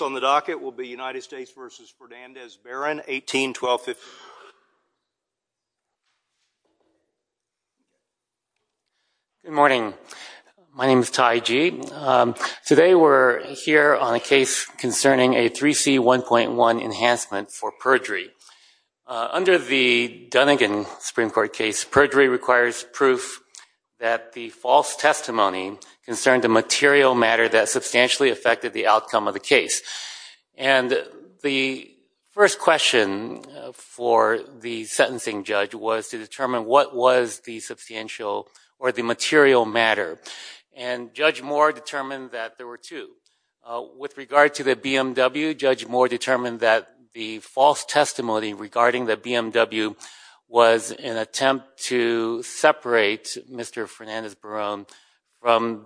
on the docket will be United States v. Fernandez-Barron, 18-1250. Good morning. My name is Ty Gee. Today we're here on a case concerning a 3C1.1 enhancement for perjury. Under the Dunigan Supreme Court case, perjury requires proof that the false And the first question for the sentencing judge was to determine what was the substantial or the material matter. And Judge Moore determined that there were two. With regard to the BMW, Judge Moore determined that the false testimony regarding the BMW was an attempt to separate Mr. Fernandez-Barron from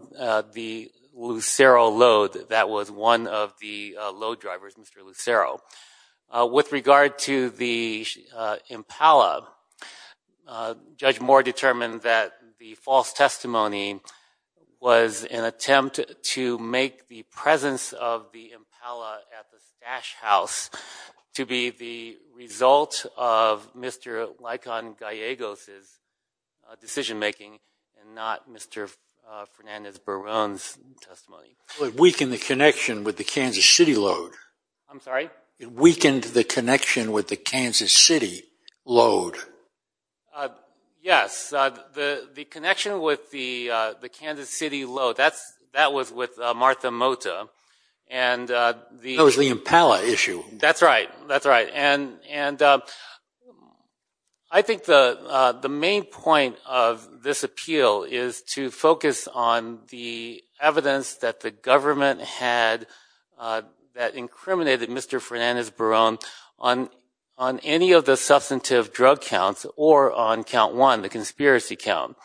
the Lucero load that was one of the load drivers, Mr. Lucero. With regard to the Impala, Judge Moore determined that the false testimony was an attempt to separate Mr. Fernandez-Barron from the Lucero load that was one of the load drivers, Mr. Lucero. It weakened the connection with the Kansas City load. Yes. The connection with the Kansas City load, that was with Martha Mota. That was the Impala issue. That's right. That's right. And I think the main point of this appeal is to focus on the evidence that the government had that incriminated Mr. Fernandez-Barron on any of the substantive drug counts or on count one, the conspiracy count.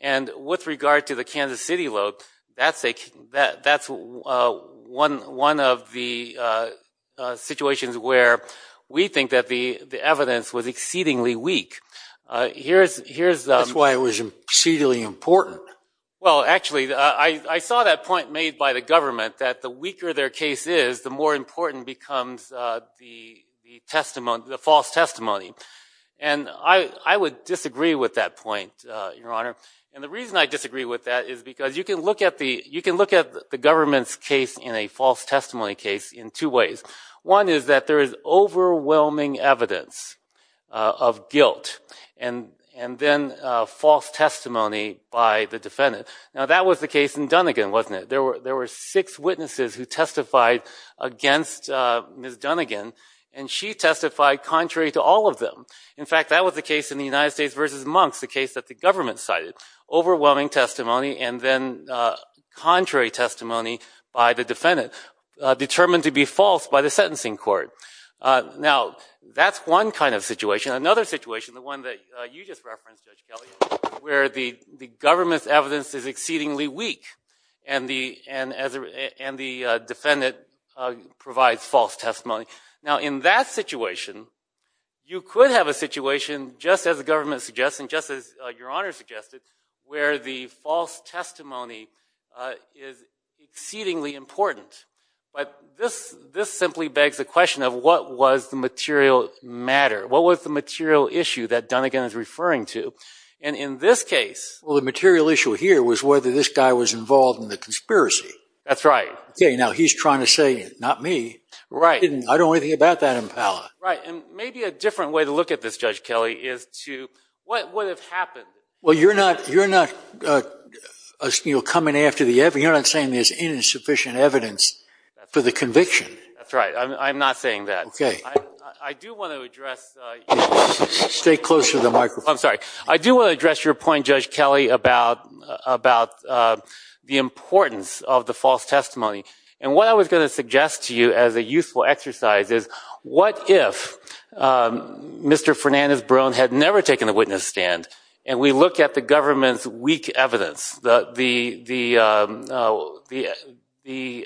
And with regard to the Kansas City load, that's one of the situations where we think that the evidence was exceedingly weak. That's why it was exceedingly important. Well actually, I saw that point made by the government that the weaker their case is, the more important becomes the false testimony. And I would disagree with that point, Your Honor. You can look at the government's case in a false testimony case in two ways. One is that there is overwhelming evidence of guilt and then false testimony by the defendant. Now that was the case in Dunnigan, wasn't it? There were six witnesses who testified against Ms. Dunnigan, and she testified contrary to all of them. In fact, that was the case in the United States v. Monks, the case that the government cited. Overwhelming testimony and then contrary testimony by the defendant, determined to be false by the sentencing court. Now that's one kind of situation. Another situation, the one that you just referenced, where the government's evidence is exceedingly weak and the defendant provides false testimony. Now in that situation, you could have a situation, just as the government suggests and just as the false testimony is exceedingly important. But this simply begs the question of what was the material matter? What was the material issue that Dunnigan is referring to? And in this case... Well, the material issue here was whether this guy was involved in the conspiracy. That's right. Okay, now he's trying to say, not me. I don't know anything about that in power. Right, and maybe a different way to look at this, Judge Kelly, is to... What would have happened? Well, you're not coming after the evidence. You're not saying there's insufficient evidence for the conviction. That's right. I'm not saying that. Okay. I do want to address... Stay closer to the microphone. I'm sorry. I do want to address your point, Judge Kelly, about the importance of the false testimony. And what I was going to suggest to you as a useful exercise is, what if Mr. Fernandez-Bron had never taken the witness stand, and we look at the government's weak evidence, the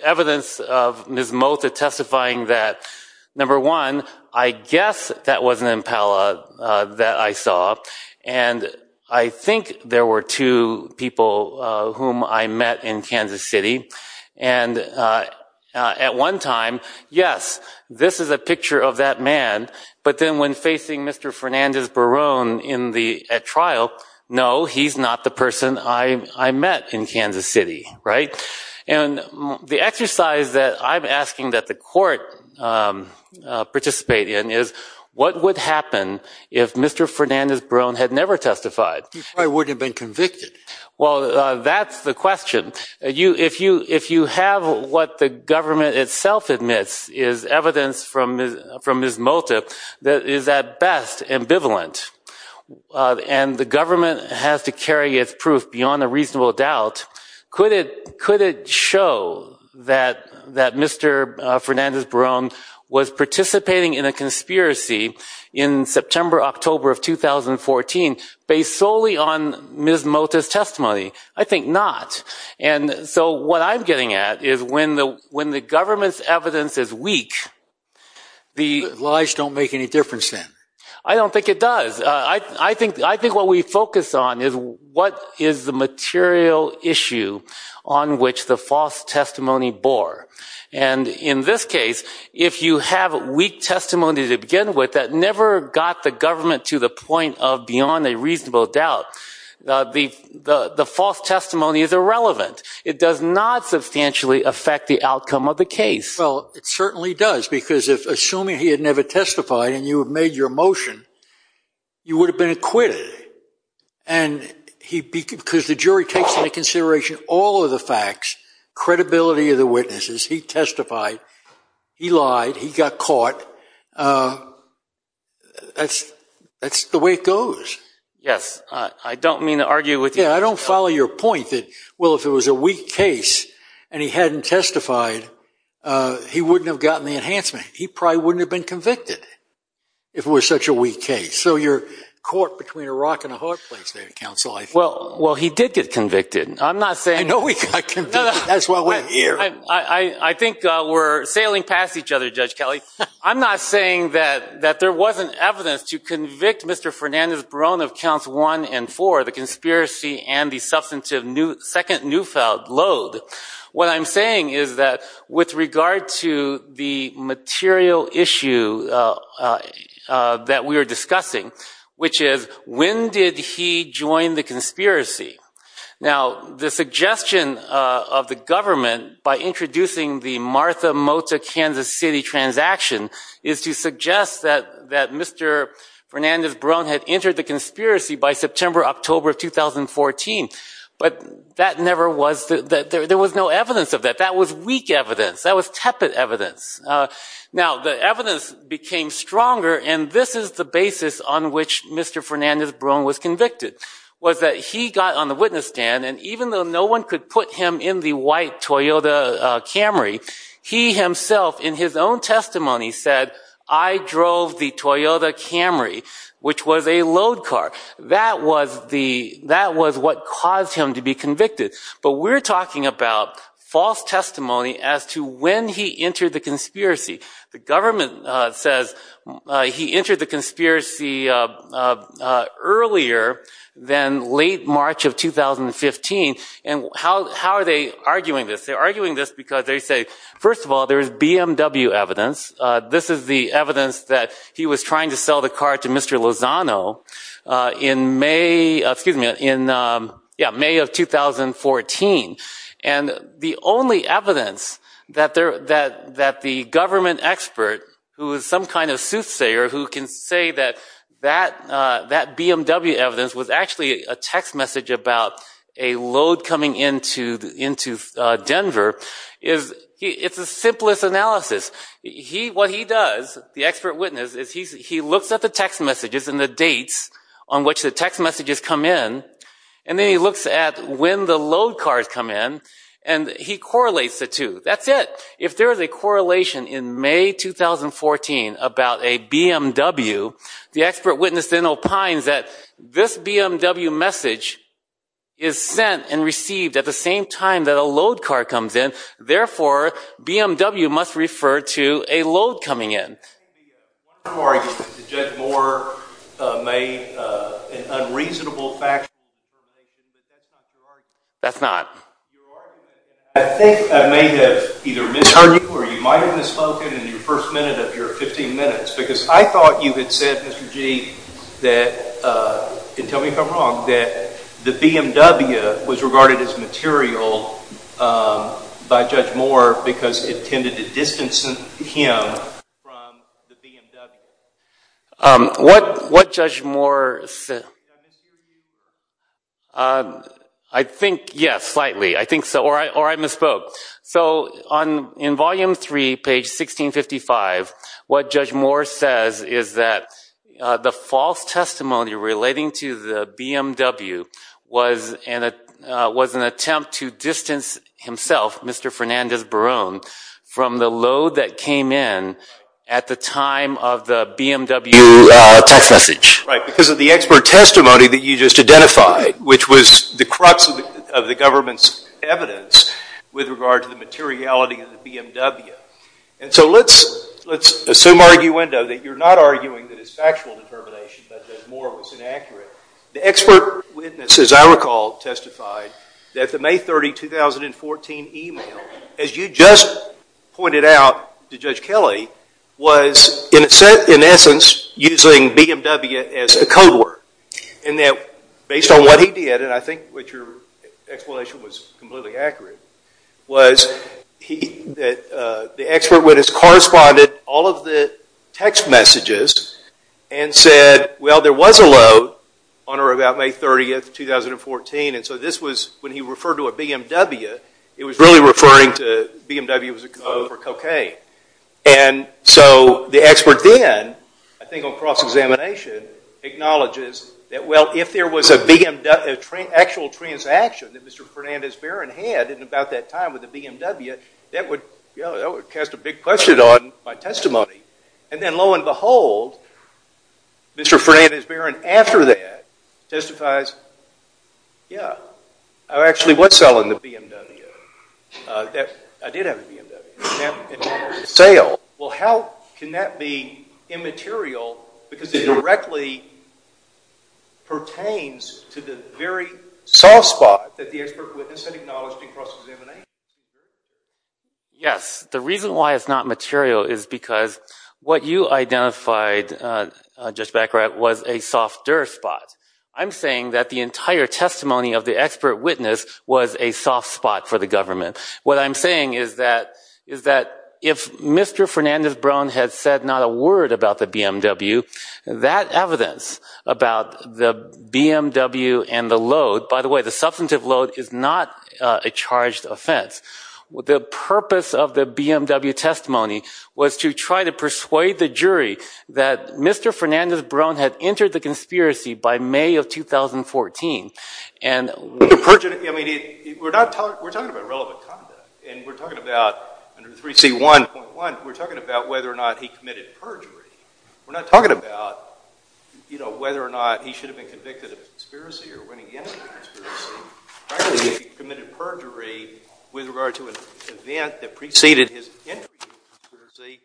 evidence of Ms. Mota testifying that, number one, I guess that was an impala that I saw. And I think there were two people whom I met in Kansas City. And at one time, yes, this is a picture of that man. But then when facing Mr. Fernandez-Bron at trial, no, he's not the person I met in Kansas City. Right? And the exercise that I'm asking that the court participate in is, what would happen if Mr. Fernandez-Bron had never testified? He probably wouldn't have been convicted. Well, that's the question. If you have what the government itself admits is evidence from Ms. Mota that is at best ambivalent, and the government has to carry its proof beyond a reasonable doubt, could it show that Mr. Fernandez-Bron was participating in a conspiracy in September, October of 2014 based solely on Ms. Mota's testimony? I think not. And so what I'm getting at is when the government's evidence is weak, the lies don't make any difference then. I don't think it does. I think what we focus on is what is the material issue on which the false testimony bore. And in this case, if you have weak testimony to begin with that never got the government to the point of beyond a reasonable doubt, the false testimony is irrelevant. It does not substantially affect the outcome of the case. Well, it certainly does because if, assuming he had never testified and you had made your motion, you would have been acquitted. And because the jury takes into consideration all of the facts, credibility of the witnesses, he testified, he lied, he got caught, and that's the way it goes. Yes, I don't mean to argue with you. Yeah, I don't follow your point that, well, if it was a weak case and he hadn't testified, he wouldn't have gotten the enhancement. He probably wouldn't have been convicted if it was such a weak case. So you're caught between a rock and a hard place there, Counsel. Well, he did get convicted. I'm not saying... I know he got convicted. That's why we're here. I think we're sailing past each other, Judge Kelly. I'm not saying that there wasn't evidence to convict Mr. Fernandez-Berron of counts one and four, the conspiracy and the substantive second newfound load. What I'm saying is that with regard to the material issue that we are discussing, which is when did he join the conspiracy? Now, the suggestion of the introducing the Martha Mota Kansas City transaction is to suggest that Mr. Fernandez-Berron had entered the conspiracy by September, October of 2014, but that never was... There was no evidence of that. That was weak evidence. That was tepid evidence. Now, the evidence became stronger, and this is the basis on which Mr. Fernandez-Berron was convicted, was that he got on the witness stand, and even though no one could put him in the white Toyota Camry, he himself in his own testimony said, I drove the Toyota Camry, which was a load car. That was what caused him to be convicted, but we're talking about false testimony as to when he entered the conspiracy. The government says he entered the conspiracy earlier than late March of 2015, and how are they arguing this? They're arguing this because they say, first of all, there's BMW evidence. This is the evidence that he was trying to sell the car to Mr. Lozano in May of 2014, and the only evidence that the government expert, who is some kind of soothsayer who can say that that BMW evidence was actually a text message about a load coming into the city of Denver, it's the simplest analysis. What he does, the expert witness, is he looks at the text messages and the dates on which the text messages come in, and then he looks at when the load cars come in, and he correlates the two. That's it. If there is a correlation in May 2014 about a BMW, the expert witness then opines that this BMW message is sent and received at the same time that a load car comes in, therefore BMW must refer to a load coming in. One argument to judge Moore made an unreasonable factual argument, but that's not your argument. I think I may have either misheard you, or you might have misspoken in your first minute of your 15 minutes, because I thought you had said, Mr. Gee, and tell me if I'm wrong, that the BMW was regarded as material by Judge Moore because it tended to distance him from the BMW. What Judge Moore said... I think, yes, slightly. I think so, or I misspoke. So in Volume 3, page 1655, what Judge Moore says is that the false testimony relating to the BMW was an attempt to distance himself, Mr. Fernandez Barone, from the load that came in at the time of the BMW text message. Right, because of the expert testimony that you just identified, which was the crux of the government's evidence with regard to the materiality of the BMW. And so let's assume, arguendo, that you're not arguing that it's factual determination, but that Moore was inaccurate. The expert witnesses, I recall, testified that the May 30, 2014 email, as you just pointed out to Judge Kelly, was in essence using BMW as the code word, and that based on what he said, the explanation was completely accurate, was that the expert witness corresponded all of the text messages and said, well, there was a load on or about May 30, 2014, and so this was when he referred to a BMW, it was really referring to BMW as a code for cocaine. And so the expert then, I think on cross-examination, acknowledges that, well, if there was an actual transaction that Mr. Fernandez-Barron had at about that time with the BMW, that would cast a big question on my testimony. And then, lo and behold, Mr. Fernandez-Barron, after that, testifies, yeah, I actually was selling the BMW, I did have a BMW, and that was a sale. Well, how can that be immaterial, because it directly pertains to the very subject matter of the soft spot that the expert witness had acknowledged in cross-examination? Yes, the reason why it's not material is because what you identified, Judge Baccarat, was a soft dirt spot. I'm saying that the entire testimony of the expert witness was a soft spot for the government. What I'm saying is that if Mr. Fernandez-Barron had said not a word about the BMW, that evidence about the BMW and the load, by the way, the substantive load is not a charged offense. The purpose of the BMW testimony was to try to persuade the jury that Mr. Fernandez-Barron had entered the conspiracy by May of 2014. And we're not talking about relevant conduct, and we're talking about under 3C1.1, we're talking about whether or not he committed perjury. We're not talking about whether or not he should have been convicted of a conspiracy or when he entered a conspiracy. Frankly, he committed perjury with regard to an event that preceded his entry into a conspiracy.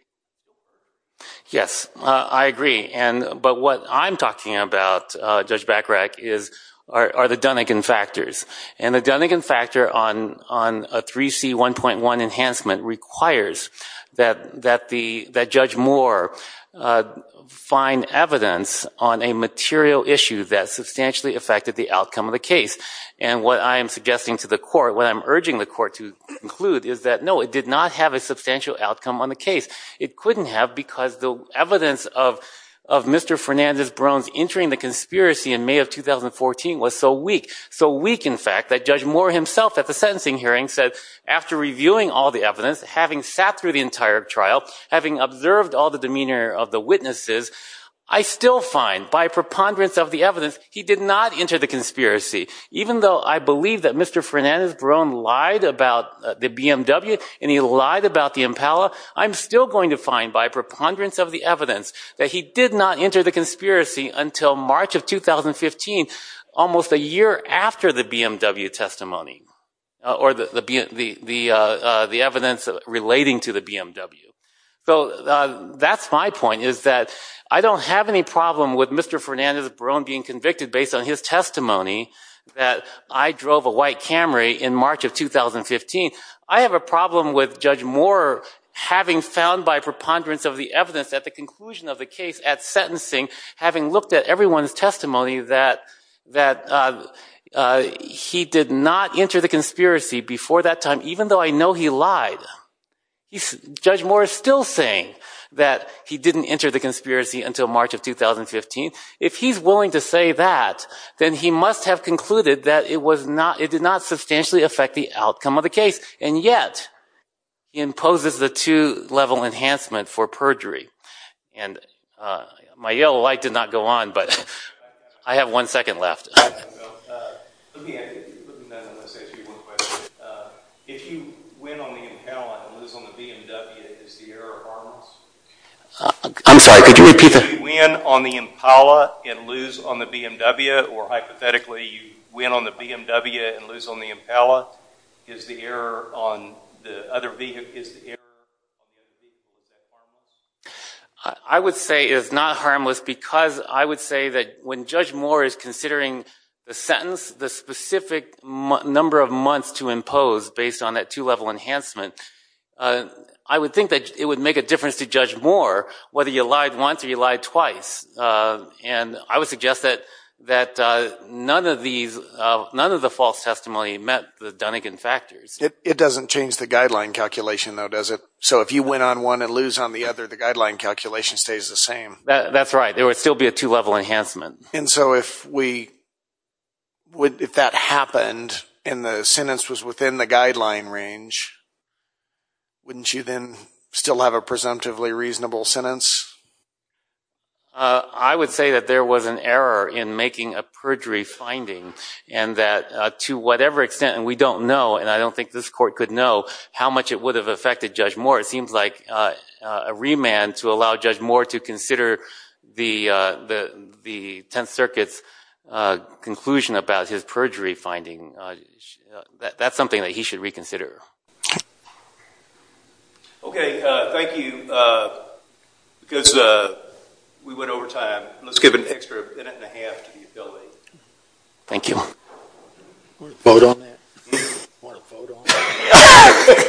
Yes, I agree. But what I'm talking about, Judge Baccarat, are the Dunigan factors. And the Dunigan factor on a 3C1.1 enhancement requires that Judge Moore find evidence on a material issue that substantially affected the outcome of the case. And what I'm suggesting to the court, what I'm urging the court to conclude is that no, it did not have a substantial outcome on the case. It couldn't have because the evidence of Mr. Fernandez-Barron's entering the conspiracy in May of 2014 was so weak, so weak in fact, that Judge Moore himself at the sentencing hearing said, after reviewing all the evidence, having sat through the entire trial, having observed all the demeanor of the witnesses, I still find by preponderance of the evidence he did not enter the conspiracy. Even though I believe that Mr. Fernandez-Barron lied about the BMW and he lied about the Impala, I'm still going to find by preponderance of the evidence that he did not enter the conspiracy until March of 2015, almost a year after the BMW testimony or the evidence relating to the BMW. So that's my point is that I don't have any problem with Mr. Fernandez-Barron being convicted based on his testimony that I drove a white Camry in March of 2015. I have a problem with Judge Moore having found by preponderance of the evidence at the conclusion of the case at sentencing, having looked at everyone's testimony that he did not enter the conspiracy before that time, even though I know he lied. Judge Moore is still saying that he didn't enter the conspiracy until March of 2015. If he's willing to say that, then he must have concluded that it did not substantially affect the outcome of the case, and yet imposes the two-level enhancement for perjury. And my yellow light did not go on, but I have one second left. If you win on the Impala and lose on the BMW, is the error harmless? I'm sorry, could you repeat that? If you win on the Impala and lose on the BMW, or hypothetically you win on the BMW and lose on the Impala, is the error on the other vehicle harmless? I would say it is not harmless because I would say that when Judge Moore is considering the sentence, the specific number of months to impose based on that two-level enhancement, I would think that it would make a difference to Judge Moore whether you lied once or you lied twice. And I would suggest that none of the false testimony met the Dunnegan factors. It doesn't change the guideline calculation, though, does it? So if you win on one and lose on the other, the guideline calculation stays the same. That's right. There would still be a two-level enhancement. And so if that happened and the sentence was within the guideline range, wouldn't you then still have a presumptively reasonable sentence? I would say that there was an error in making a perjury finding and that to whatever extent, and we don't know, and I don't think this court could know, how much it would have affected Judge Moore. It seems like a remand to allow Judge Moore to consider the Tenth Circuit's conclusion about his perjury finding, that's something that he should reconsider. OK. Thank you. Because we went over time, let's give an extra minute and a half to the affiliate. Thank you. Want to vote on that? Want to vote on that?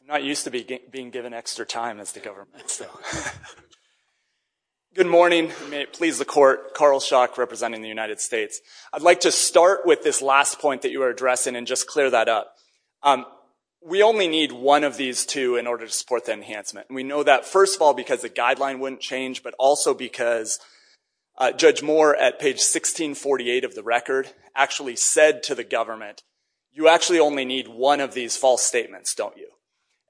I'm not used to being given extra time as the government, so. Good morning. May it please the court, Carl Schock representing the United States. I'd like to start with this last point that you were addressing and just clear that up. We only need one of these two in order to support the enhancement. We know that, first of all, because the guideline wouldn't change, but also because Judge Moore at page 1648 of the record actually said to the government, you actually only need one of these false statements, don't you?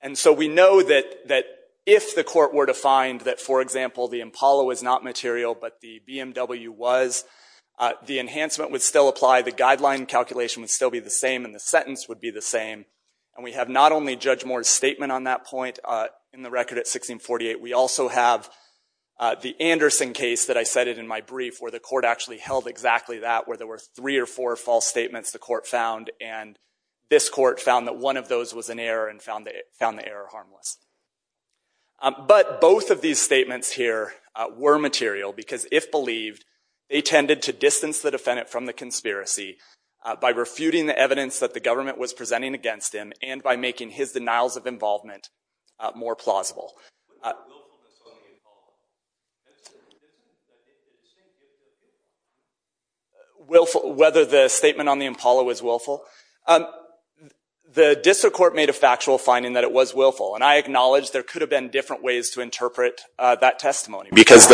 And so we know that if the court were to find that, for example, the Impala was not material, but the BMW was, the enhancement would still apply, the guideline calculation would still be the same, and the sentence would be the same. And we have not only Judge Moore's statement on that point in the record at 1648, we also have the Anderson case that I cited in my brief, where the court actually held exactly that, where there were three or four false statements the court found, and this court found that one of those was an error and found the error harmless. But both of these statements here were material, because if believed, they tended to distance the defendant from the conspiracy by refuting the evidence that the government was presenting against him and by making his denials of involvement more plausible. Willful, whether the statement on the Impala was willful? The district court made a factual finding that it was willful, and I acknowledge there could have been different ways to interpret that testimony. Because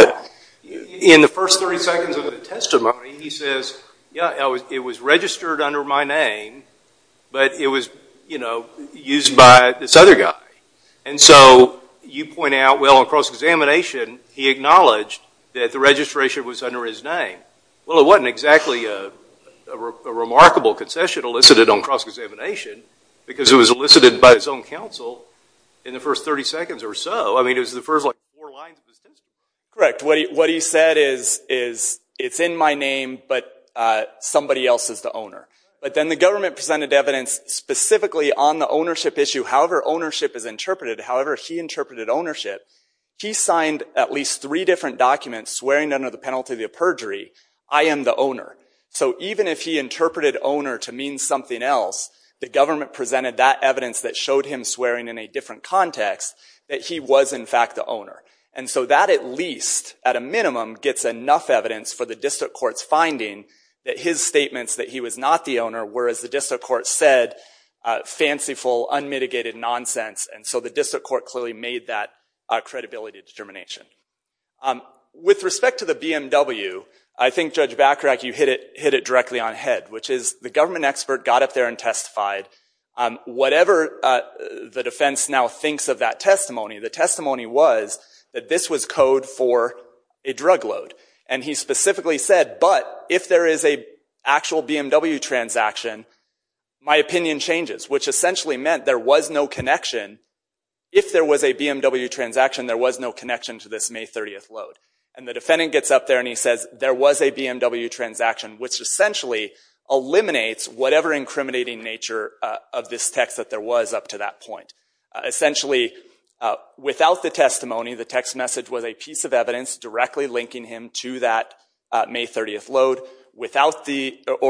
in the first 30 seconds of the testimony, he says, yeah, it was registered under my name, but it was used by this other guy. And so you point out, well, on cross-examination, he acknowledged that the registration was under his name. Well, it wasn't exactly a remarkable concession elicited on cross-examination, because it was elicited by his own counsel in the first 30 seconds or so. I mean, it was the first four lines of the testimony. Correct. What he said is, it's in my name, but somebody else is the owner. But then the government presented evidence specifically on the ownership issue, however ownership is interpreted. However he interpreted ownership, he signed at least three different documents swearing under the penalty of perjury, I am the owner. So even if he interpreted owner to mean something else, the government presented that evidence that showed him swearing in a different context, that he was in fact the owner. And so that at least, at a minimum, gets enough evidence for the district court's finding that his statements that he was not the owner were, as the district court said, fanciful, unmitigated nonsense. And so the district court clearly made that credibility determination. With respect to the BMW, I think Judge Bachrach, you hit it directly on head, which is the government expert got up there and testified. Whatever the defense now thinks of that testimony, the testimony was that this was code for a drug load. And he specifically said, but if there is an actual BMW transaction, my opinion changes. Which essentially meant there was no connection. If there was a BMW transaction, there was no connection to this May 30th load. And the defendant gets up there and he says, there was a BMW transaction, which essentially eliminates whatever incriminating nature of this text that there was up to that point. Essentially without the testimony, the text message was a piece of evidence directly linking him to that May 30th load. So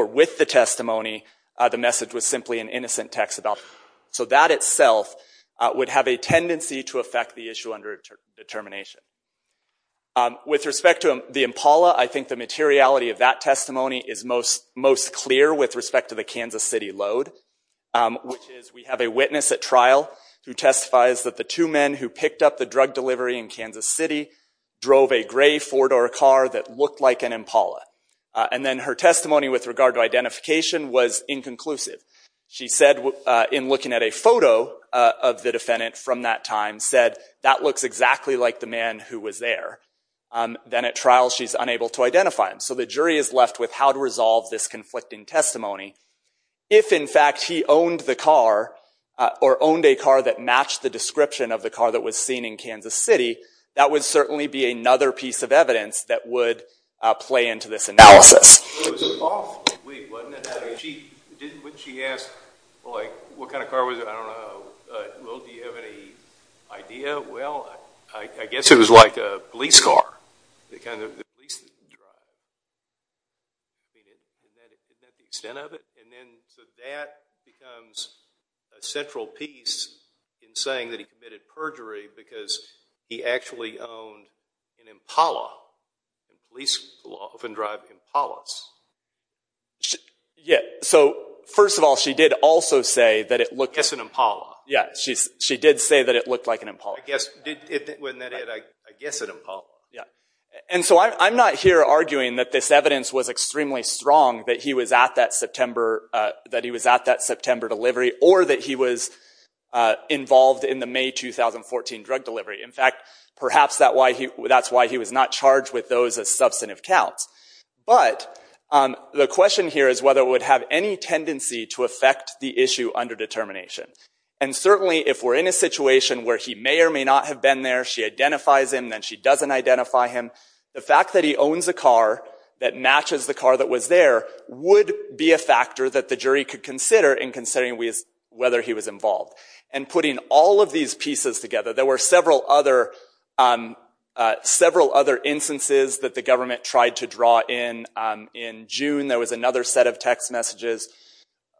with the testimony, the message was simply an innocent text about it. So that itself would have a tendency to affect the issue under determination. With respect to the Impala, I think the materiality of that testimony is most clear with respect to the Kansas City load, which is we have a witness at trial who testifies that the two men who picked up the drug delivery in Kansas City drove a gray four-door car that looked like an Impala. And then her testimony with regard to identification was inconclusive. She said, in looking at a photo of the defendant from that time, said, that looks exactly like the man who was there. Then at trial, she's unable to identify him. So the jury is left with how to resolve this conflicting testimony. If in fact he owned the car, or owned a car that matched the description of the car that was seen in Kansas City, that would certainly be another piece of evidence that would play into this analysis. It was an off week, wasn't it? I mean, wouldn't she ask, like, what kind of car was it? I don't know. Will, do you have any idea? Well, I guess it was like a police car. The kind of police that you drive. I mean, would that be the extent of it? And then, so that becomes a central piece in saying that he committed perjury. Because he actually owned an Impala. Police often drive Impalas. Yeah. So first of all, she did also say that it looked like an Impala. Yeah. She did say that it looked like an Impala. I guess. Wasn't that it? I guess an Impala. Yeah. And so I'm not here arguing that this evidence was extremely strong, that he was at that September delivery, or that he was involved in the May 2014 drug delivery. In fact, perhaps that's why he was not charged with those as substantive counts. But the question here is whether it would have any tendency to affect the issue under determination. And certainly, if we're in a situation where he may or may not have been there, she identifies him, then she doesn't identify him, the fact that he owns a car that matches the car that was there would be a factor that the jury could consider in considering whether he was involved. And putting all of these pieces together, there were several other instances that the government tried to draw in. In June, there was another set of text messages.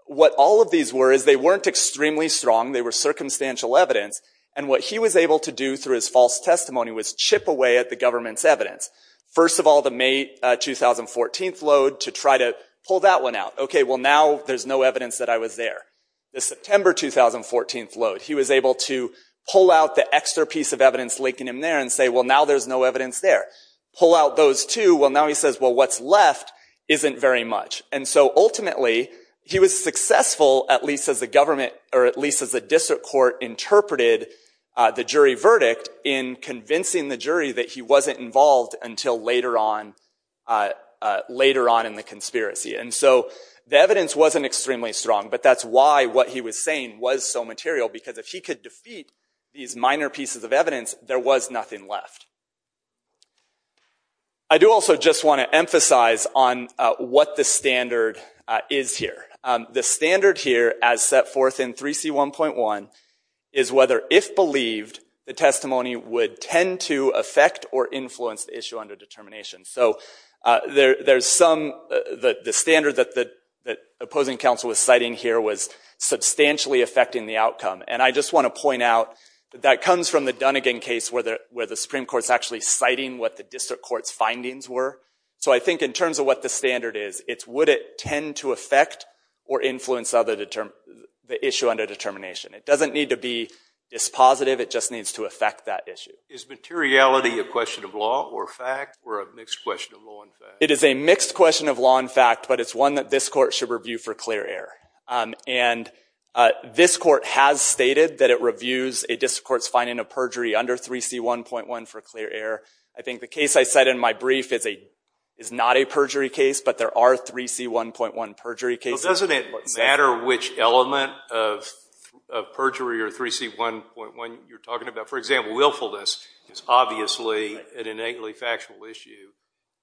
What all of these were is they weren't extremely strong. They were circumstantial evidence. And what he was able to do through his false testimony was chip away at the government's evidence. First of all, the May 2014 load, to try to pull that one out. Okay, well now there's no evidence that I was there. The September 2014 load, he was able to pull out the extra piece of evidence linking him there and say, well now there's no evidence there. Pull out those two, well now he says, well what's left isn't very much. And so ultimately, he was successful, at least as the government, or at least as the district court, interpreted the jury verdict in convincing the jury that he wasn't involved until later on in the conspiracy. And so the evidence wasn't extremely strong. But that's why what he was saying was so material, because if he could defeat these minor pieces of evidence, there was nothing left. I do also just want to emphasize on what the standard is here. The standard here, as set forth in 3C1.1, is whether, if believed, the testimony would tend to affect or influence the issue under determination. So there's some, the standard that the opposing counsel was citing here was substantially affecting the outcome. And I just want to point out, that comes from the Dunnigan case, where the Supreme Court's actually citing what the district court's findings were. So I think in terms of what the standard is, it's would it tend to affect or influence the issue under determination. It doesn't need to be dispositive, it just needs to affect that issue. Is materiality a question of law or fact, or a mixed question of law and fact? It is a mixed question of law and fact, but it's one that this court should review for clear error. And this court has stated that it reviews a district court's finding of perjury under 3C1.1 for clear error. I think the case I cite in my brief is not a perjury case, but there are 3C1.1 perjury cases. Well, doesn't it matter which element of perjury or 3C1.1 you're talking about? For example, willfulness is obviously an innately factual issue,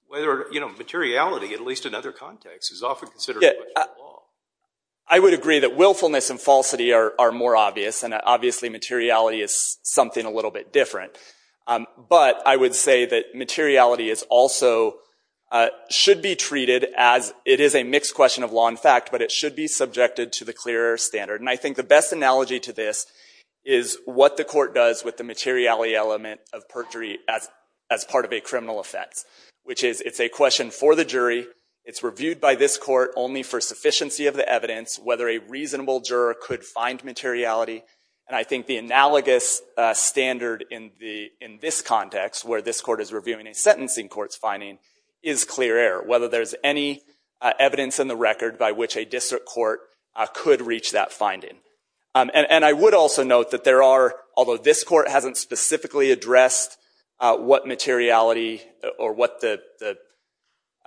whether, you know, materiality, at least in other contexts, is often considered a question of law. I would agree that willfulness and falsity are more obvious, and obviously materiality is something a little bit different. But I would say that materiality is also, should be treated as, it is a mixed question of law and fact, but it should be subjected to the clear error standard. And I think the best analogy to this is what the court does with the materiality element of perjury as part of a criminal offense, which is, it's a question for the jury, it's reviewed by this court only for sufficiency of the evidence, whether a reasonable juror could find materiality. And I think the analogous standard in this context, where this court is reviewing a sentencing court's finding, is clear error, whether there's any evidence in the record by which a district court could reach that finding. And I would also note that there are, although this court hasn't specifically addressed what materiality or what the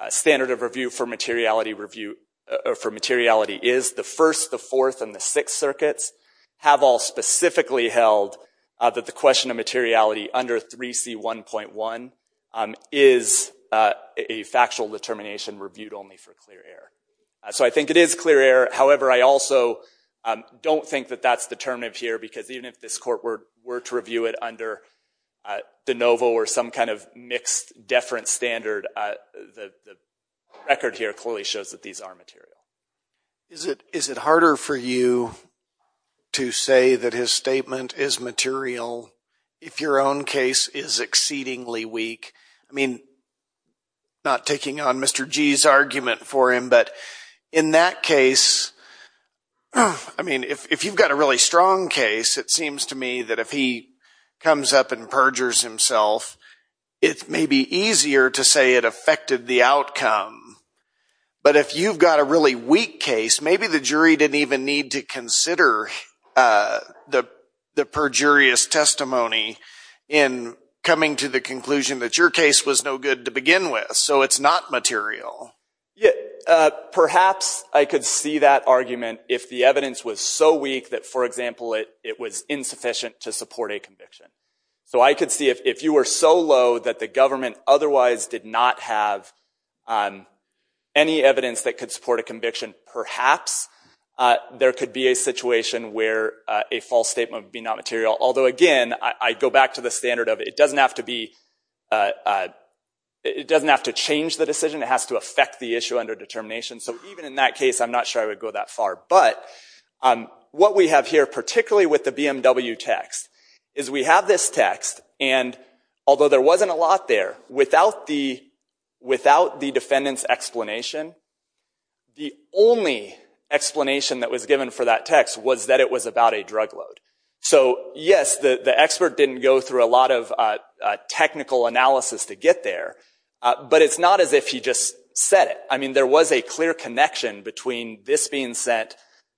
standard of review for materiality is, the First, the Fourth, and the Sixth Circuits have all specifically held that the question of materiality under 3C1.1 is a factual determination reviewed only for clear error. So I think it is clear error, however, I also don't think that that's determinative here, because even if this court were to review it under de novo or some kind of mixed deference standard, the record here clearly shows that these are material. Is it harder for you to say that his statement is material if your own case is exceedingly weak? I mean, not taking on Mr. G's argument for him, but in that case, I mean, if you've got a really strong case, it seems to me that if he comes up and perjures himself, it may be easier to say it affected the outcome. But if you've got a really weak case, maybe the jury didn't even need to consider the perjurious testimony in coming to the conclusion that your case was no good to begin with. So it's not material. Perhaps I could see that argument if the evidence was so weak that, for example, it was insufficient to support a conviction. So I could see if you were so low that the government otherwise did not have any evidence that could support a conviction, perhaps there could be a situation where a false statement would be not material. Although, again, I go back to the standard of it doesn't have to change the decision, it has to affect the issue under determination. So even in that case, I'm not sure I would go that far. But what we have here, particularly with the BMW text, is we have this text, and although there wasn't a lot there, without the defendant's explanation, the only explanation that was given for that text was that it was about a drug load. So yes, the expert didn't go through a lot of technical analysis to get there, but it's not as if he just said it. There was a clear connection between this being sent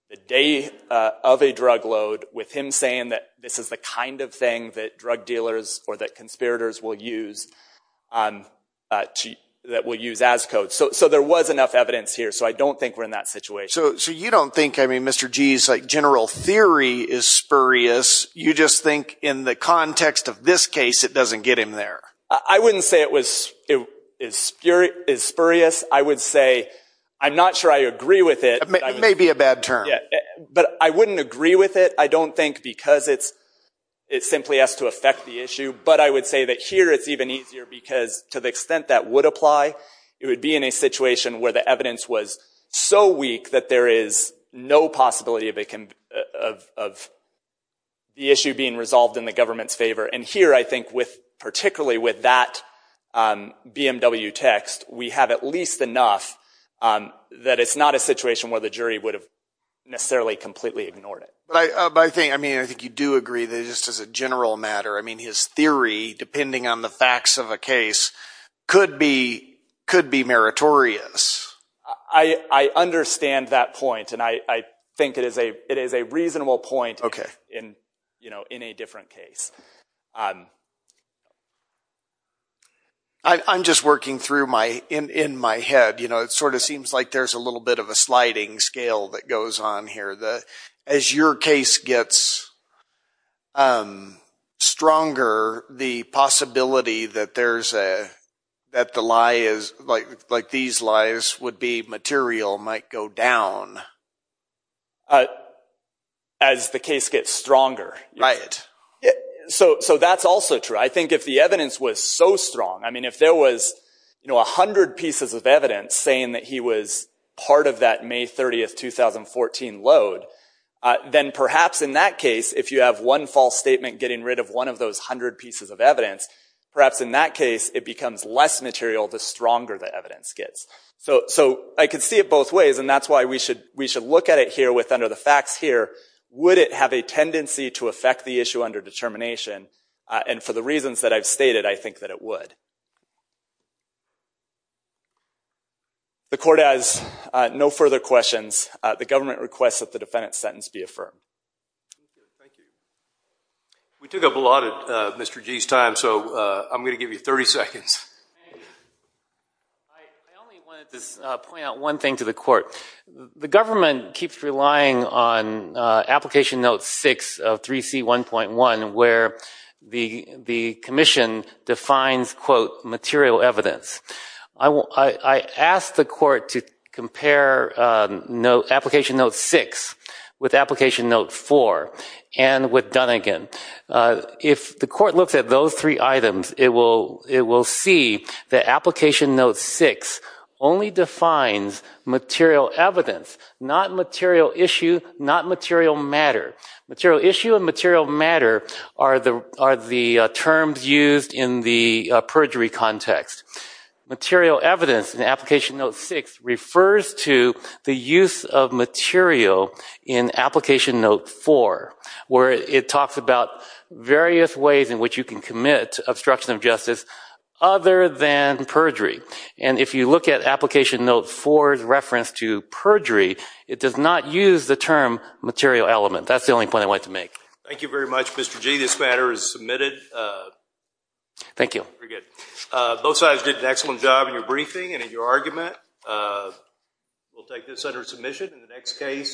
the day of a drug load with him saying that this is the kind of thing that drug dealers or that conspirators will use as code. So there was enough evidence here, so I don't think we're in that situation. So you don't think Mr. G's general theory is spurious, you just think in the context of this case, it doesn't get him there. I wouldn't say it is spurious. I would say, I'm not sure I agree with it. It may be a bad term. But I wouldn't agree with it. I don't think because it simply has to affect the issue, but I would say that here it's even easier because to the extent that would apply, it would be in a situation where the evidence was so weak that there is no possibility of the issue being resolved in the government's favor. And here, I think, particularly with that BMW text, we have at least enough that it's not a situation where the jury would have necessarily completely ignored it. But I think you do agree that just as a general matter, his theory, depending on the facts of a case, could be meritorious. I understand that point, and I think it is a reasonable point in a different case. I'm just working through in my head. It sort of seems like there's a little bit of a sliding scale that goes on here. As your case gets stronger, the possibility that these lies would be material might go down. As the case gets stronger. Right. So that's also true. I think if the evidence was so strong, I mean, if there was 100 pieces of evidence saying that he was part of that May 30th, 2014 load, then perhaps in that case, if you have one false statement getting rid of one of those 100 pieces of evidence, perhaps in that case it becomes less material the stronger the evidence gets. So I could see it both ways, and that's why we should look at it here with under the facts here. Would it have a tendency to affect the issue under determination? And for the reasons that I've stated, I think that it would. The court has no further questions. The government requests that the defendant's sentence be affirmed. We took up a lot of Mr. Gee's time, so I'm going to give you 30 seconds. I only wanted to point out one thing to the court. The government keeps relying on application note 6 of 3C1.1 where the commission defines quote material evidence. I asked the court to compare application note 6 with application note 4 and with Dunnegan. If the court looks at those three items, it will see that application note 6 only defines material evidence, not material issue, not material matter. Material issue and material matter are the terms used in the perjury context. Material evidence in application note 6 refers to the use of material in application note 4 where it talks about various ways in which you can commit obstruction of justice other than perjury. If you look at application note 4's reference to perjury, it does not use the term material element. That's the only point I wanted to make. Thank you very much, Mr. Gee. This matter is submitted. Thank you. Both sides did an excellent job in your briefing and in your argument. We'll take this under submission in the next case.